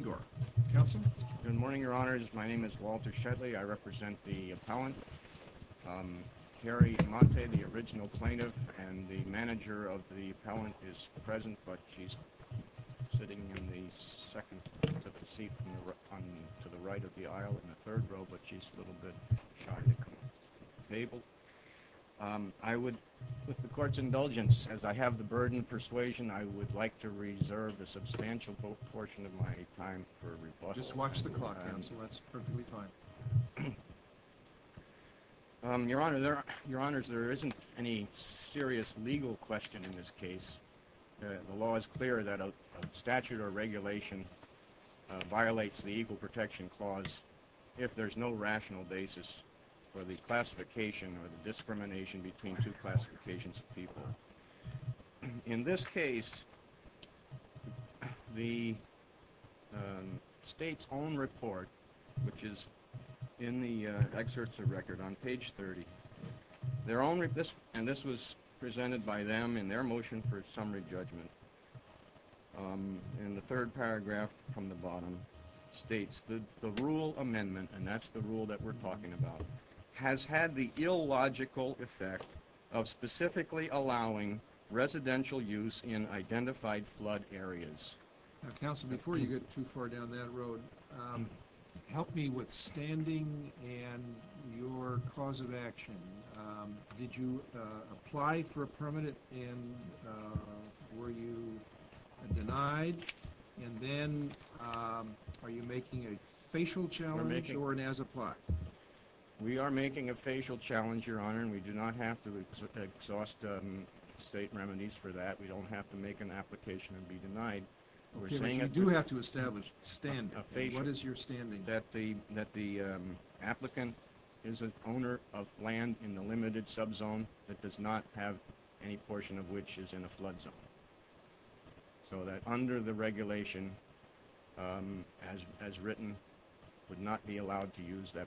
Good morning, Your Honors. My name is Walter Shetley. I represent the appellant, Carrie Monte, the original plaintiff, and the manager of the appellant is present, but she's sitting in the second seat to the right of the aisle in the third row, but she's a little bit shy to come to the table. I would, with the Court's indulgence, as I have the burden of persuasion, I would like to reserve a substantial portion of my time for rebuttal. Your Honors, there isn't any serious legal question in this case. The law is clear that a statute or regulation violates the Equal Protection Clause if there's no rational basis for the classification or the discrimination between two classifications of people. In this case, the State's own report, which is in the excerpts of record on page 30, and this was presented by them in their motion for summary judgment, in the third paragraph from the bottom, states that the rule amendment, and that's the rule that we're talking about, has had the illogical effect of specifically allowing residential use in identified flood areas. Counsel, before you get too far down that road, help me with standing and your cause of action. Did you apply for a permanent and were you denied, and then are you making a facial challenge or an as-applied? We are making a facial challenge, Your Honor, and we do not have to exhaust State remedies for that. We don't have to make an application and be denied. Okay, but you do have to establish standing. What is your standing? That the applicant is an owner of land in the limited subzone that does not have any portion of which is in a flood zone. So that under the regulation, as written, would not be their owners in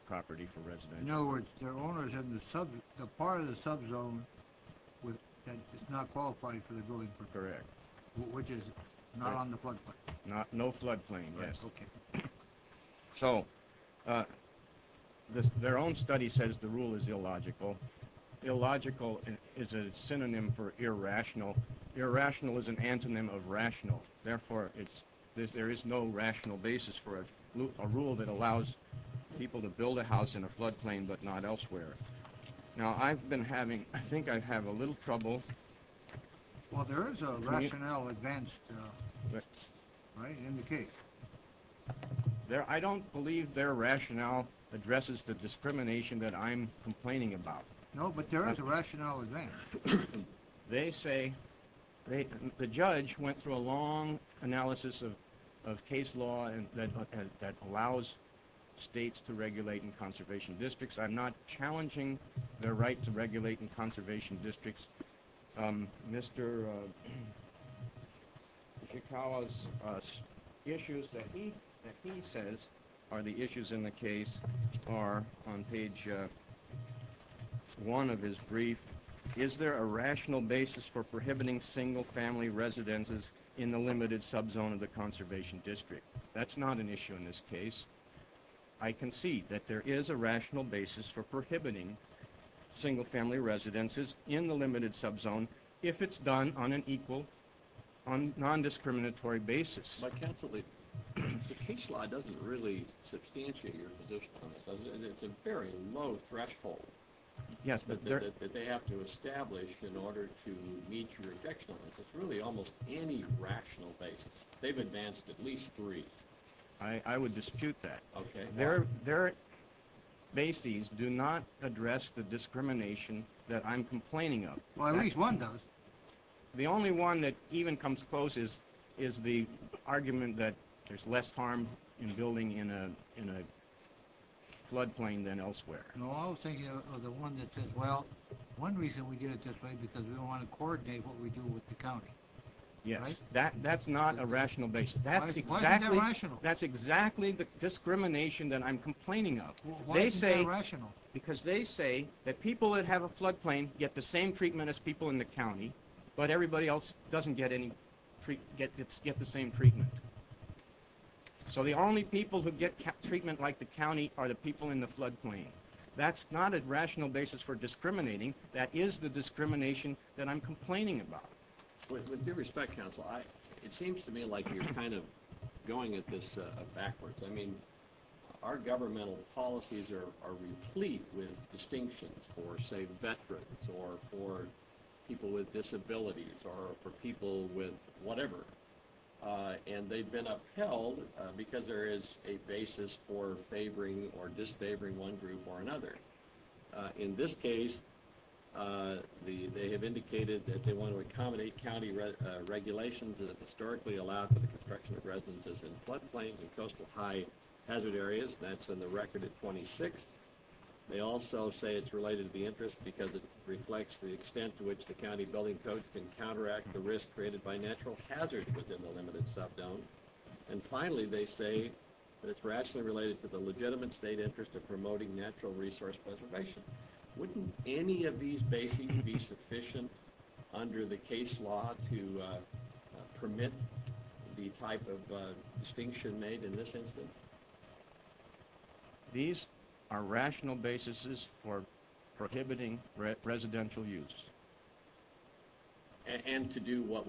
the part of the subzone that is not qualifying for the building, which is not on the floodplain. No floodplain, yes. So their own study says the rule is illogical. Illogical is a synonym for irrational. Irrational is an antonym of rational, therefore there is no rational basis for a rule that allows people to build a house in a floodplain but not elsewhere. Now, I've been having, I think I have a little trouble. Well, there is a rational advance, right, in the case. There, I don't believe their rationale addresses the discrimination that I'm complaining about. No, but there is a rational advance. They say, the judge went through a long analysis of case law that allows states to regulate in conservation districts. I'm not challenging their right to regulate in conservation districts. Mr. Ishikawa's issues that he says are the issues in the case are on page one of his brief. Is there a rational basis for prohibiting single-family residences in the limited subzone of the conservation district? That's not an issue in this case. I can see that there is a rational basis for prohibiting single-family residences in the limited subzone if it's done on an equal, on non-discriminatory basis. But counsel, the case law doesn't really substantiate your position on this, does it? And it's a very low threshold. Yes, I would dispute that. Their bases do not address the discrimination that I'm complaining of. Well, at least one does. The only one that even comes close is the argument that there's less harm in building in a floodplain than elsewhere. No, I was thinking of the one that says, well, one reason we did it this way because we don't want to coordinate what we do with the county. Yes, that's not a rational basis. That's exactly the discrimination that I'm complaining of. Why is that irrational? Because they say that people that have a floodplain get the same treatment as people in the county, but everybody else doesn't get the same treatment. So the only people who get treatment like the county are the people in the floodplain. That's not a rational basis for discriminating. That is the discrimination that I'm complaining about. With due respect, counsel, it seems to me like you're kind of going at this backwards. I mean, our governmental policies are replete with distinctions for, say, veterans or for people with disabilities or for people with whatever. And they've been upheld because there is a basis for favoring or disfavoring one group or another. In this case, they have indicated that they want to accommodate county regulations that have historically allowed for the construction of residences in floodplains and coastal high hazard areas. That's in the record at 26. They also say it's related to the interest because it reflects the extent to which the county building codes can counteract the risk created by natural hazards within the limited sub-zone. And finally, they say that it's rationally related to the legitimate state interest of promoting natural resource preservation. Wouldn't any of these bases be sufficient under the case law to permit the type of distinction made in this instance? These are rational bases for prohibiting residential use. And to do what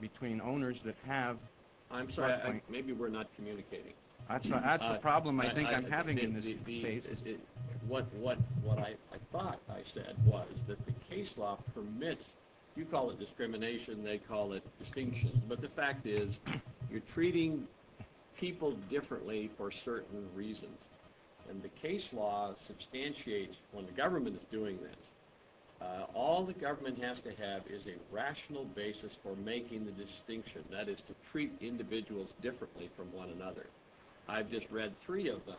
between owners that have... I'm sorry, maybe we're not communicating. That's the problem I think I'm having in this case. What I thought I said was that the case law permits, you call it discrimination, they call it distinction, but the fact is you're treating people differently for certain reasons. And the case law substantiates when the government is doing this. All the government has to have is a rational basis for making the distinction. That is to treat individuals differently from one another. I've just read three of them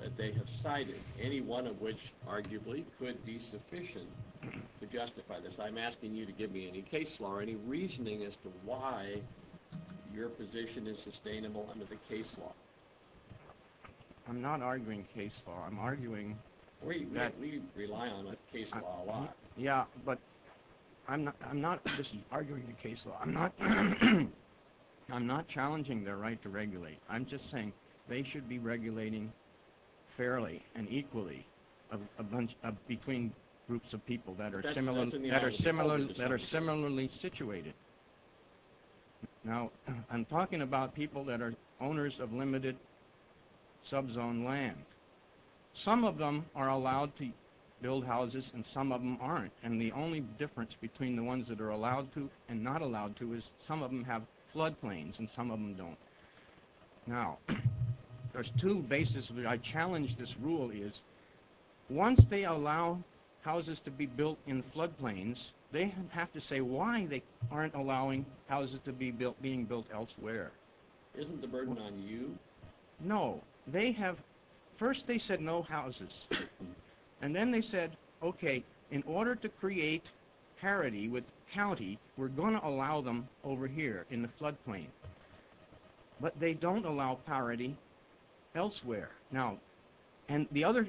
that they have cited, any one of which arguably could be sufficient to justify this. I'm asking you to give me any case law or any reasoning as to why your position is sustainable under the case law. I'm not arguing case law. I'm arguing that... We rely on a case law a lot. Yeah, but I'm not just arguing the case law. I'm not challenging their right to regulate. I'm just saying they should be regulating fairly and equally between groups of people that are similarly situated. Now, I'm talking about people that are owners of limited subzone land. Some of them are allowed to build houses and some of them aren't. And the only difference between the ones that are allowed to and not allowed to is some of them have floodplains and some of them don't. Now, there's two bases. I challenge this rule is once they allow houses to be built in floodplains, they have to say why they aren't allowing houses to be built being built elsewhere. Isn't the burden on you? No, they have... First, they said no houses. And then they said, okay, in order to create parity with county, we're going to allow them over here in the floodplain. But they don't allow parity elsewhere. Now, and the other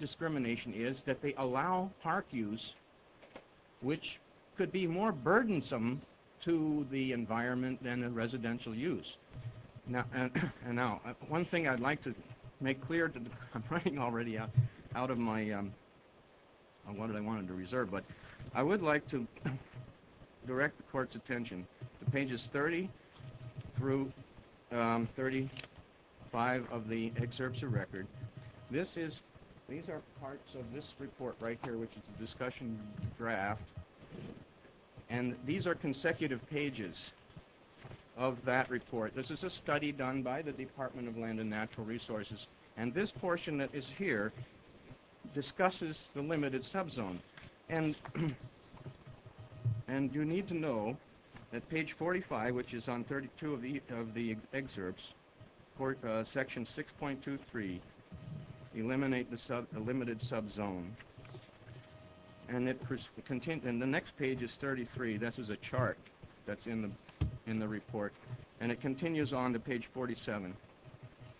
discrimination is that they allow park use, which could be more burdensome to the environment than the residential use. Now, one thing I'd like to make clear... I'm running already out of my... What did I want to reserve? But I would like to direct the court's attention to pages 30 through 35 of the excerpts of record. This is... These are parts of this report right here, which is a discussion draft. And these are consecutive pages of that report. This is a study done by the Department of Land and Natural Resources. And this portion that is here discusses the limited subzone. And you need to know that page 45, which is on 32 of the excerpts, for section 6.23, eliminate the limited subzone. And the next page is 33. This is a chart that's in the report. And it continues on to page 47.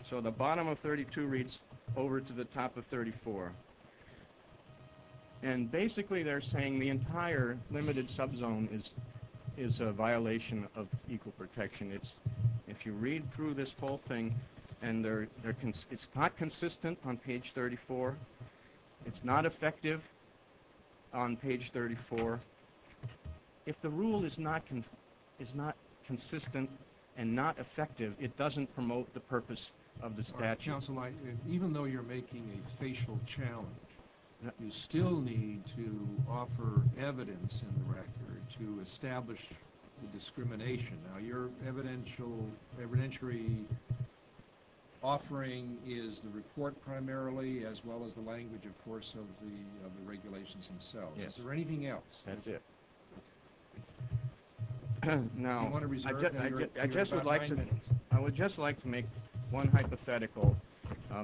So the bottom of 32 reads over to the top of 34. And basically they're saying the entire limited subzone is a violation of equal protection. It's... If you read through this whole thing and they're... It's not consistent on page 34. It's not effective on page 34. If the rule is not consistent and not effective, it doesn't promote the purpose of the challenge. You still need to offer evidence in the record to establish the discrimination. Now your evidential... evidentiary offering is the report primarily, as well as the language, of course, of the regulations themselves. Is there anything else? That's it. Now, I just would like I would just like to make one hypothetical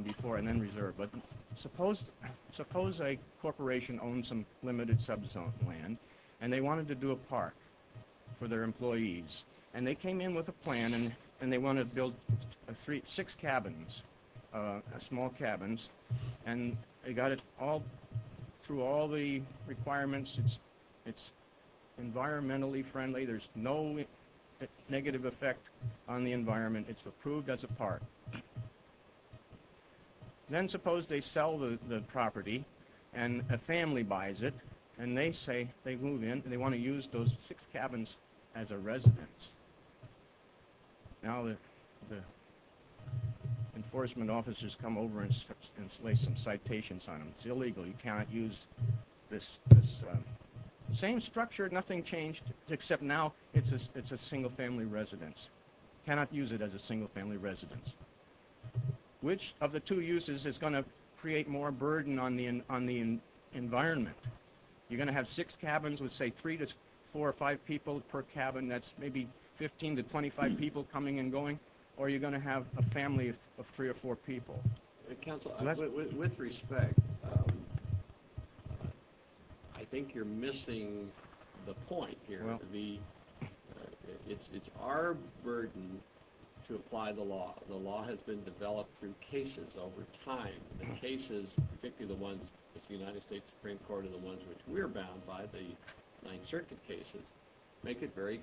before and then reserve. But suppose... suppose a corporation owns some limited subzone land and they wanted to do a park for their employees. And they came in with a plan and they want to build three... six cabins, small cabins. And they got it all through all the requirements. It's environmentally friendly. There's no negative effect on the environment. It's approved as a park. Then suppose they sell the property and a family buys it and they say they move in and they want to use those six cabins as a residence. Now the enforcement officers come over and lay some citations on them. It's illegal. You cannot use this same structure. Nothing changed except now it's a single-family residence. Cannot use it as a single-family residence. Which of the two uses is going to create more burden on the environment? You're going to have six cabins with say three to four or five people per cabin. That's maybe 15 to 25 people coming and going. Or you're going to have a family of three or four people. With respect, I think you're missing the point here. It's our burden to apply the law. The law has been developed through cases over time. The cases, particularly the ones with the United States Supreme Court and the ones which we're bound by, the Ninth Circuit cases, make it very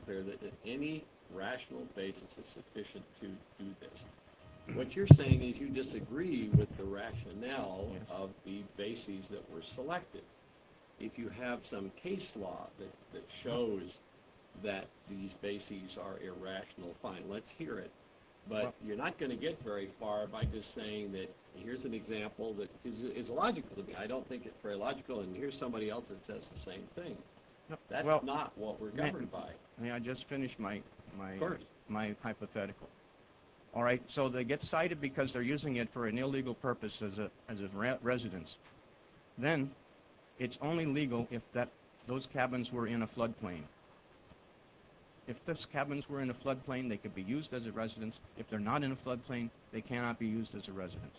logical to me. I don't think it's very logical and here's somebody else that says the same thing. That's not what we're governed by. May I just finish my hypothetical? Alright, so they get cited because they're using it for an illegal purpose as a residence. Then it's only legal if those cabins were in a floodplain. If those cabins were in a floodplain, they could be used as a residence. If they're not in a floodplain, they cannot be used as a residence.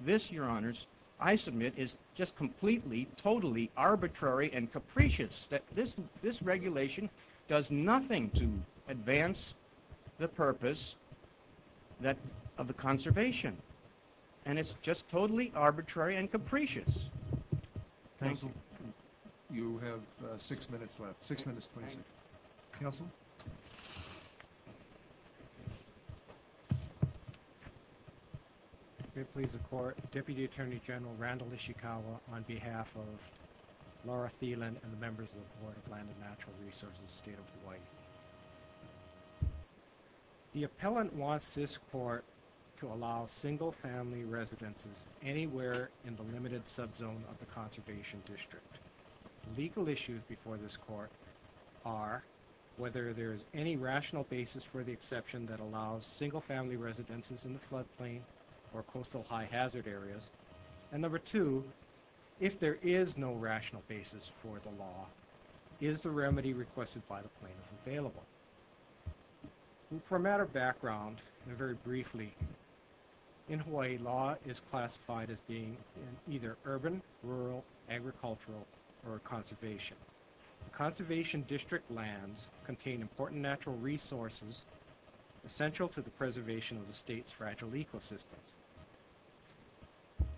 This, Your Honors, I submit is just completely, totally arbitrary and capricious. This regulation does nothing to advance the purpose of the conservation and it's just totally General Randall Ishikawa on behalf of Laura Thielen and the members of the Board of Land and Natural Resources, State of Hawaii. The appellant wants this court to allow single family residences anywhere in the limited subzone of the conservation district. Legal issues before this court are whether there is any rational basis for the exception that allows single family residences in the floodplain or coastal high hazard areas. And number two, if there is no rational basis for the law, is the remedy requested by the plaintiff available? For a matter of background, very briefly, in Hawaii law is classified as being either urban, rural, agricultural, or conservation. Conservation district lands contain important natural resources essential to the preservation of the state's fragile ecosystem.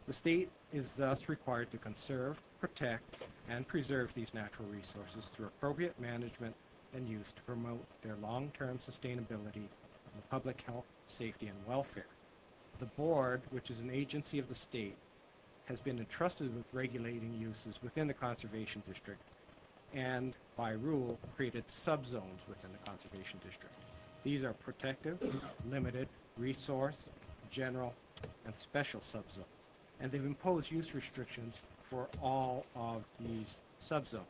The state is thus required to conserve, protect, and preserve these natural resources through appropriate management and use to promote their long-term sustainability, public health, safety, and welfare. The board, which is an agency of the state, has been entrusted with regulating uses within the conservation district and, by rule, created subzones within the conservation district. These are protective limited resource, general, and special subzones, and they've imposed use restrictions for all of these subzones.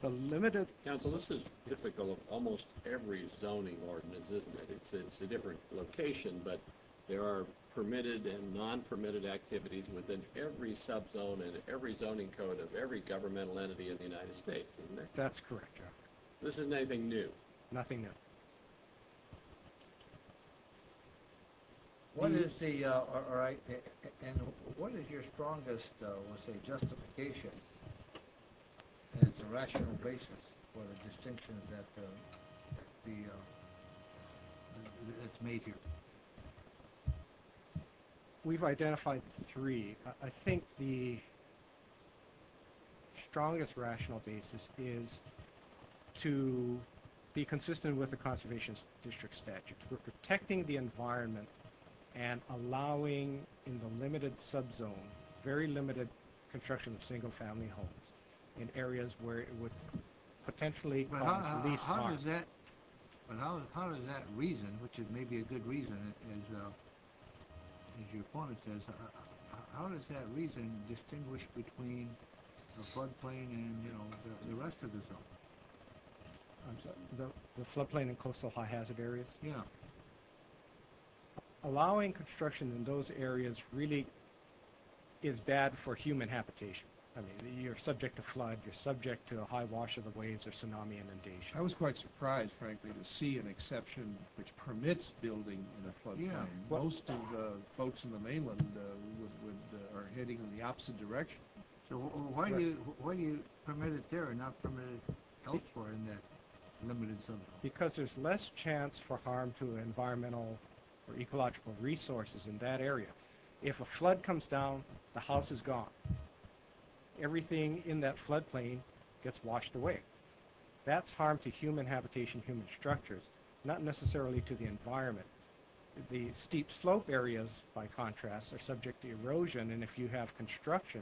The limited... Counsel, this is typical of almost every zoning ordinance, isn't it? It's a different location, but there are permitted and non-permitted activities within every subzone and every zoning code of every governmental entity in the United States, isn't it? That's correct, this is nothing new. Nothing new. What is the, alright, and what is your strongest, let's say, justification as a rational basis for the distinction that's made here? We've to be consistent with the conservation district statute. We're protecting the environment and allowing, in the limited subzone, very limited construction of single-family homes in areas where it would potentially cause the least harm. But how does that, how does that reason, which may be a good reason, as your opponent says, how does that reason distinguish between the floodplain and, you know, the rest of the zone? The floodplain and coastal high-hazard areas? Yeah. Allowing construction in those areas really is bad for human habitation. I mean, you're subject to flood, you're subject to a high wash of the waves or tsunami inundation. I was quite surprised, frankly, to see an exception which permits building in a floodplain. Yeah. Most of the boats in the zone. So why do you permit it there and not permit it elsewhere in that limited subzone? Because there's less chance for harm to environmental or ecological resources in that area. If a flood comes down, the house is gone. Everything in that floodplain gets washed away. That's harm to human habitation, human structures, not necessarily to the environment. The steep slope areas, by contrast, are subject to erosion, and if you have construction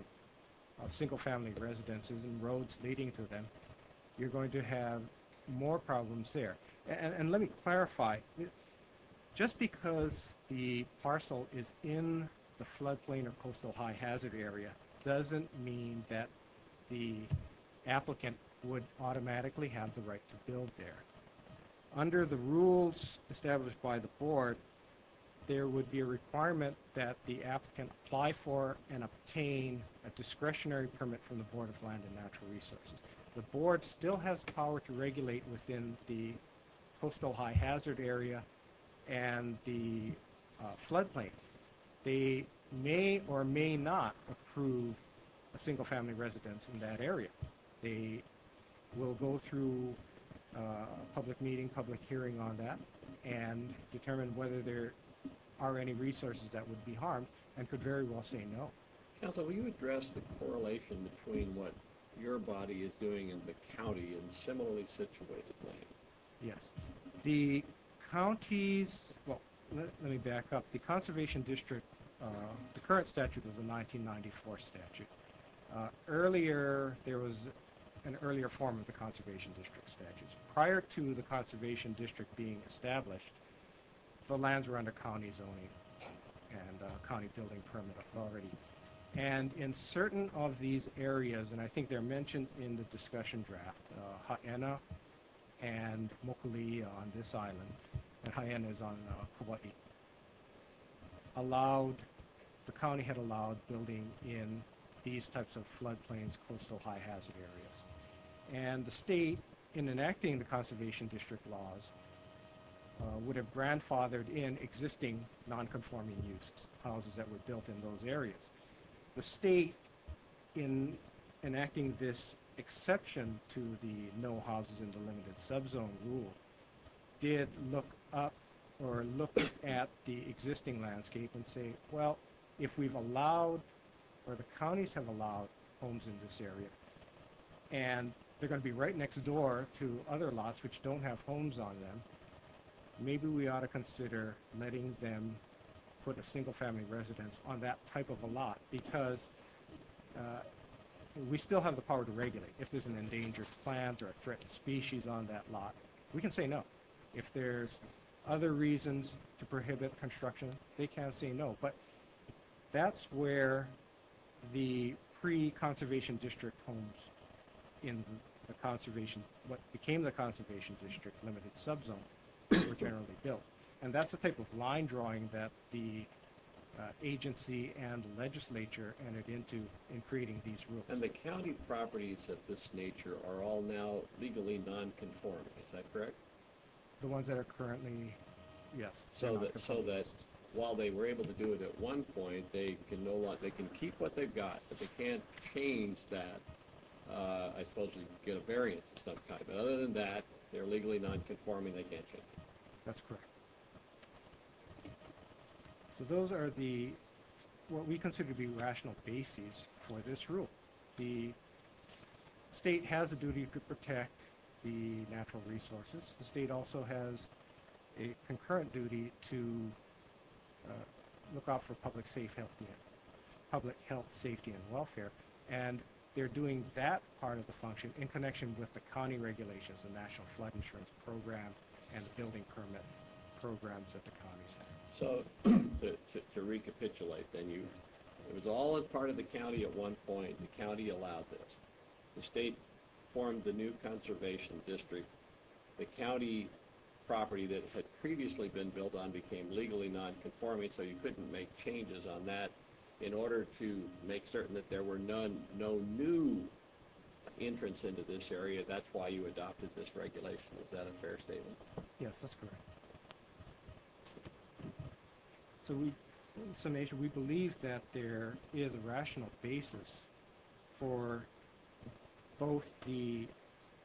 of single-family residences and roads leading to them, you're going to have more problems there. And let me clarify, just because the parcel is in the floodplain or coastal high-hazard area doesn't mean that the applicant would automatically have the right to build there. Under the rules established by the board, there would be a and obtain a discretionary permit from the Board of Land and Natural Resources. The board still has power to regulate within the coastal high-hazard area and the floodplain. They may or may not approve a single-family residence in that area. They will go through a public meeting, public hearing on that, and determine whether there are any resources that would be harmed and could very well say no. Counsel, will you address the correlation between what your body is doing in the county and similarly situated land? Yes. The county's, well let me back up, the Conservation District, the current statute is a 1994 statute. Earlier, there was an earlier form of the Conservation District statutes. Prior to the Conservation District being established, the and in certain of these areas, and I think they're mentioned in the discussion draft, Haena and Mokuli on this island, and Haena is on Kauai, allowed, the county had allowed building in these types of floodplains, coastal high-hazard areas. And the state, in enacting the Conservation District laws, would have grandfathered in existing non-conforming uses, houses that were built in those areas. The state, in enacting this exception to the no houses in the limited subzone rule, did look up or look at the existing landscape and say, well if we've allowed, or the counties have allowed, homes in this area, and they're going to be right next door to other lots which don't have homes on them, maybe we ought to consider letting them put a single-family residence on that type of a lot, because we still have the power to regulate. If there's an endangered plant or a threatened species on that lot, we can say no. If there's other reasons to prohibit construction, they can't say no. But that's where the pre-Conservation District homes in the Conservation, what became the Conservation District limited subzone, were generally built. And that's the type of line drawing that the agency and legislature entered into in creating these rules. And the county properties of this nature are all now legally non-conforming, is that correct? The ones that are currently, yes. So that, while they were able to do it at one point, they can no longer, they can keep what they've got. If they can't change that, I suppose you get a variance of some kind. But other than that, they're legally non-conforming, they can't change it. That's correct. So those are the, what we consider to be rational bases for this rule. The state has a duty to protect the natural resources. The state also has a concurrent duty to look out for public safe health, public health, safety, and welfare. And they're doing that part of the function in connection with the county regulations, the National Flood Insurance Program and the Building Permit Programs that the counties have. So, to recapitulate then, it was all a part of the county at one point, the county allowed this. The state formed the new Conservation District. The county property that had previously been built on became legally non-conforming, so you couldn't make changes on that. In order to make certain that there were none, no new entrance into this area, that's why you adopted this regulation. Is that a fair statement? Yes, that's correct. So we, in summation, we believe that there is a rational basis for both the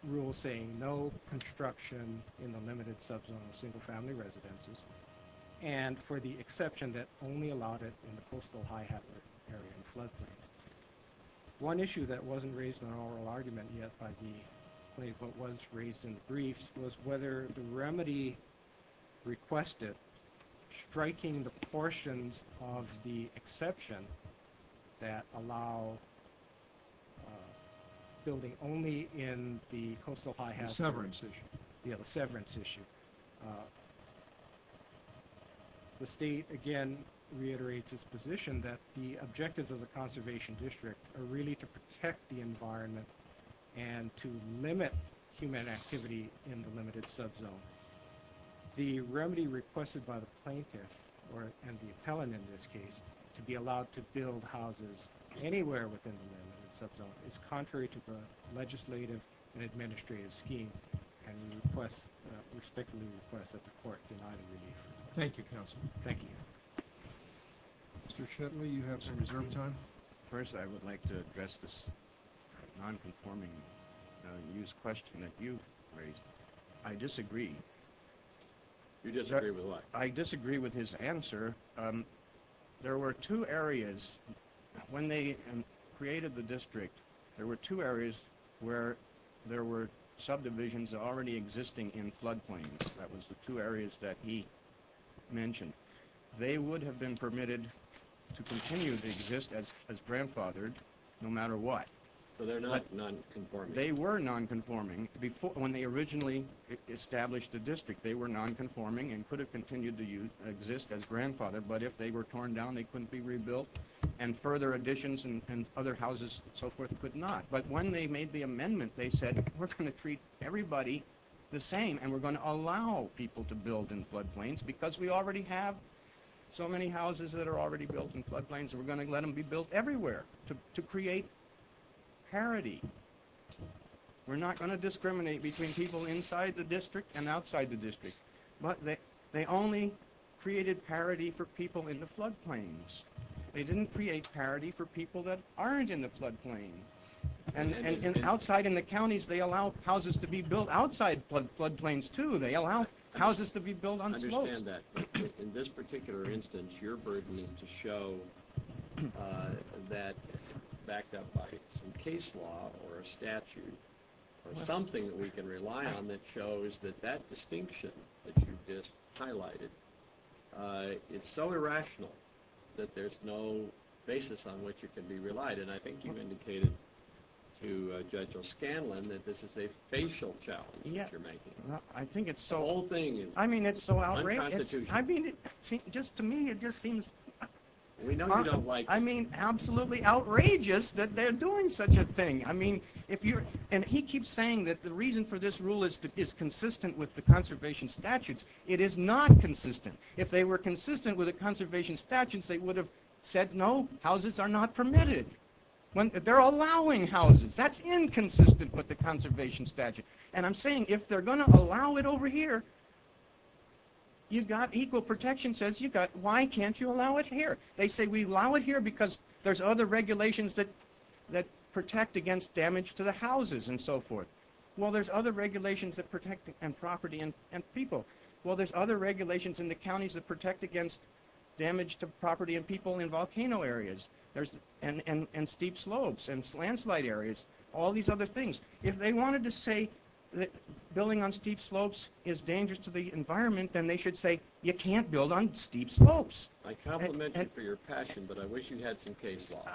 rules saying no construction in the limited sub-zone of single-family residences, and for the exception that only allowed it in the coastal high habitat area and floodplain. One issue that wasn't raised in an oral argument yet by the plaintiff, but was raised in the briefs, was whether the remedy requested striking the portions of the exception that allow building only in the coastal high habitat. The severance issue. Yeah, the severance issue. The state, again, reiterates its position that the objectives of the Conservation District are really to protect the environment and to limit human activity in the limited sub-zone. The remedy requested by the plaintiff, or the appellant in this case, to be allowed to build houses anywhere within the limited sub-zone is contrary to the legislative and administrative scheme, and we respectfully request that the court deny the remedy. Thank you, counsel. Thank you. Mr. Shetley, you have some reserve time. First, I would like to address this non-conforming news question that you raised. I disagree. You disagree with what? I disagree with his answer. There were two areas, when they created the district, there were two areas where there were subdivisions already existing in floodplains. That was the two areas that he mentioned. They would have been permitted to continue to exist as grandfathered, no matter what. So they're not non-conforming? They were non-conforming. When they originally established the district, they were non-conforming and could have continued to exist as grandfathered, but if they were torn down, they couldn't be rebuilt, and further additions and other houses and so forth could not. But when they made the amendment, they said, we're going to treat everybody the same and we're going to allow people to build in floodplains because we already have so many houses that are already built in floodplains. We're going to let them be built everywhere to create parity. We're not going to discriminate between people inside the district and outside the district, but they only created parity for people in the floodplains. They didn't create parity for people that aren't in the floodplain. And outside in the counties, they allow houses to be built outside floodplains too. They allow houses to be built on slopes. I understand that, but in this particular instance, your burden is to show that, backed up by some case law or a statute or something that we can rely on that shows that that distinction that you just highlighted, it's so irrational that there's no basis on which it can be relied. And I think you've indicated to Judge O'Scanlan that this is a facial challenge that you're making. I think it's so, I mean, it's so outrageous. I mean, just to me, it just seems, I mean, absolutely outrageous that they're doing such a thing. I mean, if you're, and he keeps saying that the reason for this rule is consistent with the conservation statutes. It is not consistent. If they were consistent with the conservation statutes, they would have said, no, houses are not permitted. They're allowing houses. That's inconsistent with the conservation statute. And I'm saying, if they're going to allow it over here, you've got equal protection, says you've got, why can't you allow it here? They say we allow it here because there's other regulations that protect against damage to the houses and so forth. Well, there's other regulations that protect and property and people. Well, there's other people in volcano areas. There's, and steep slopes and landslide areas, all these other things. If they wanted to say that building on steep slopes is dangerous to the environment, then they should say, you can't build on steep slopes. I compliment you for your passion, but I wish you had some case law.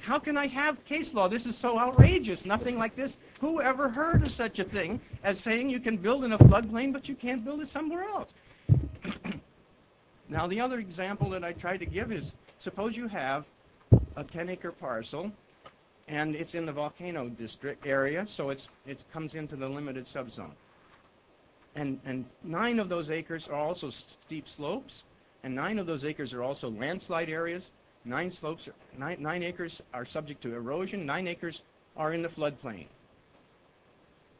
How can I have case law? This is so outrageous. Nothing like this. Whoever heard of such a thing as saying you can build in a floodplain, but you can't build it somewhere else. Now, the other example that I tried to give is, suppose you have a 10-acre parcel and it's in the volcano district area, so it comes into the limited subzone. And nine of those acres are also steep slopes, and nine of those acres are also landslide areas. Nine acres are subject to erosion. Nine acres are in the floodplain.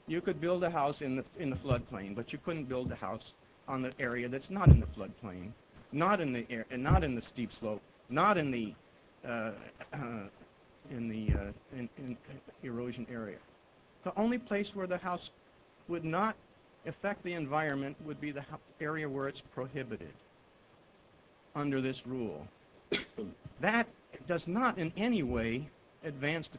You could build a house in the floodplain, but you couldn't build a house on the area that's not in the floodplain, not in the steep slope, not in the erosion area. The only place where the house would not affect the environment would be the area where it's prohibited under this rule. That does not in any way advance the conservation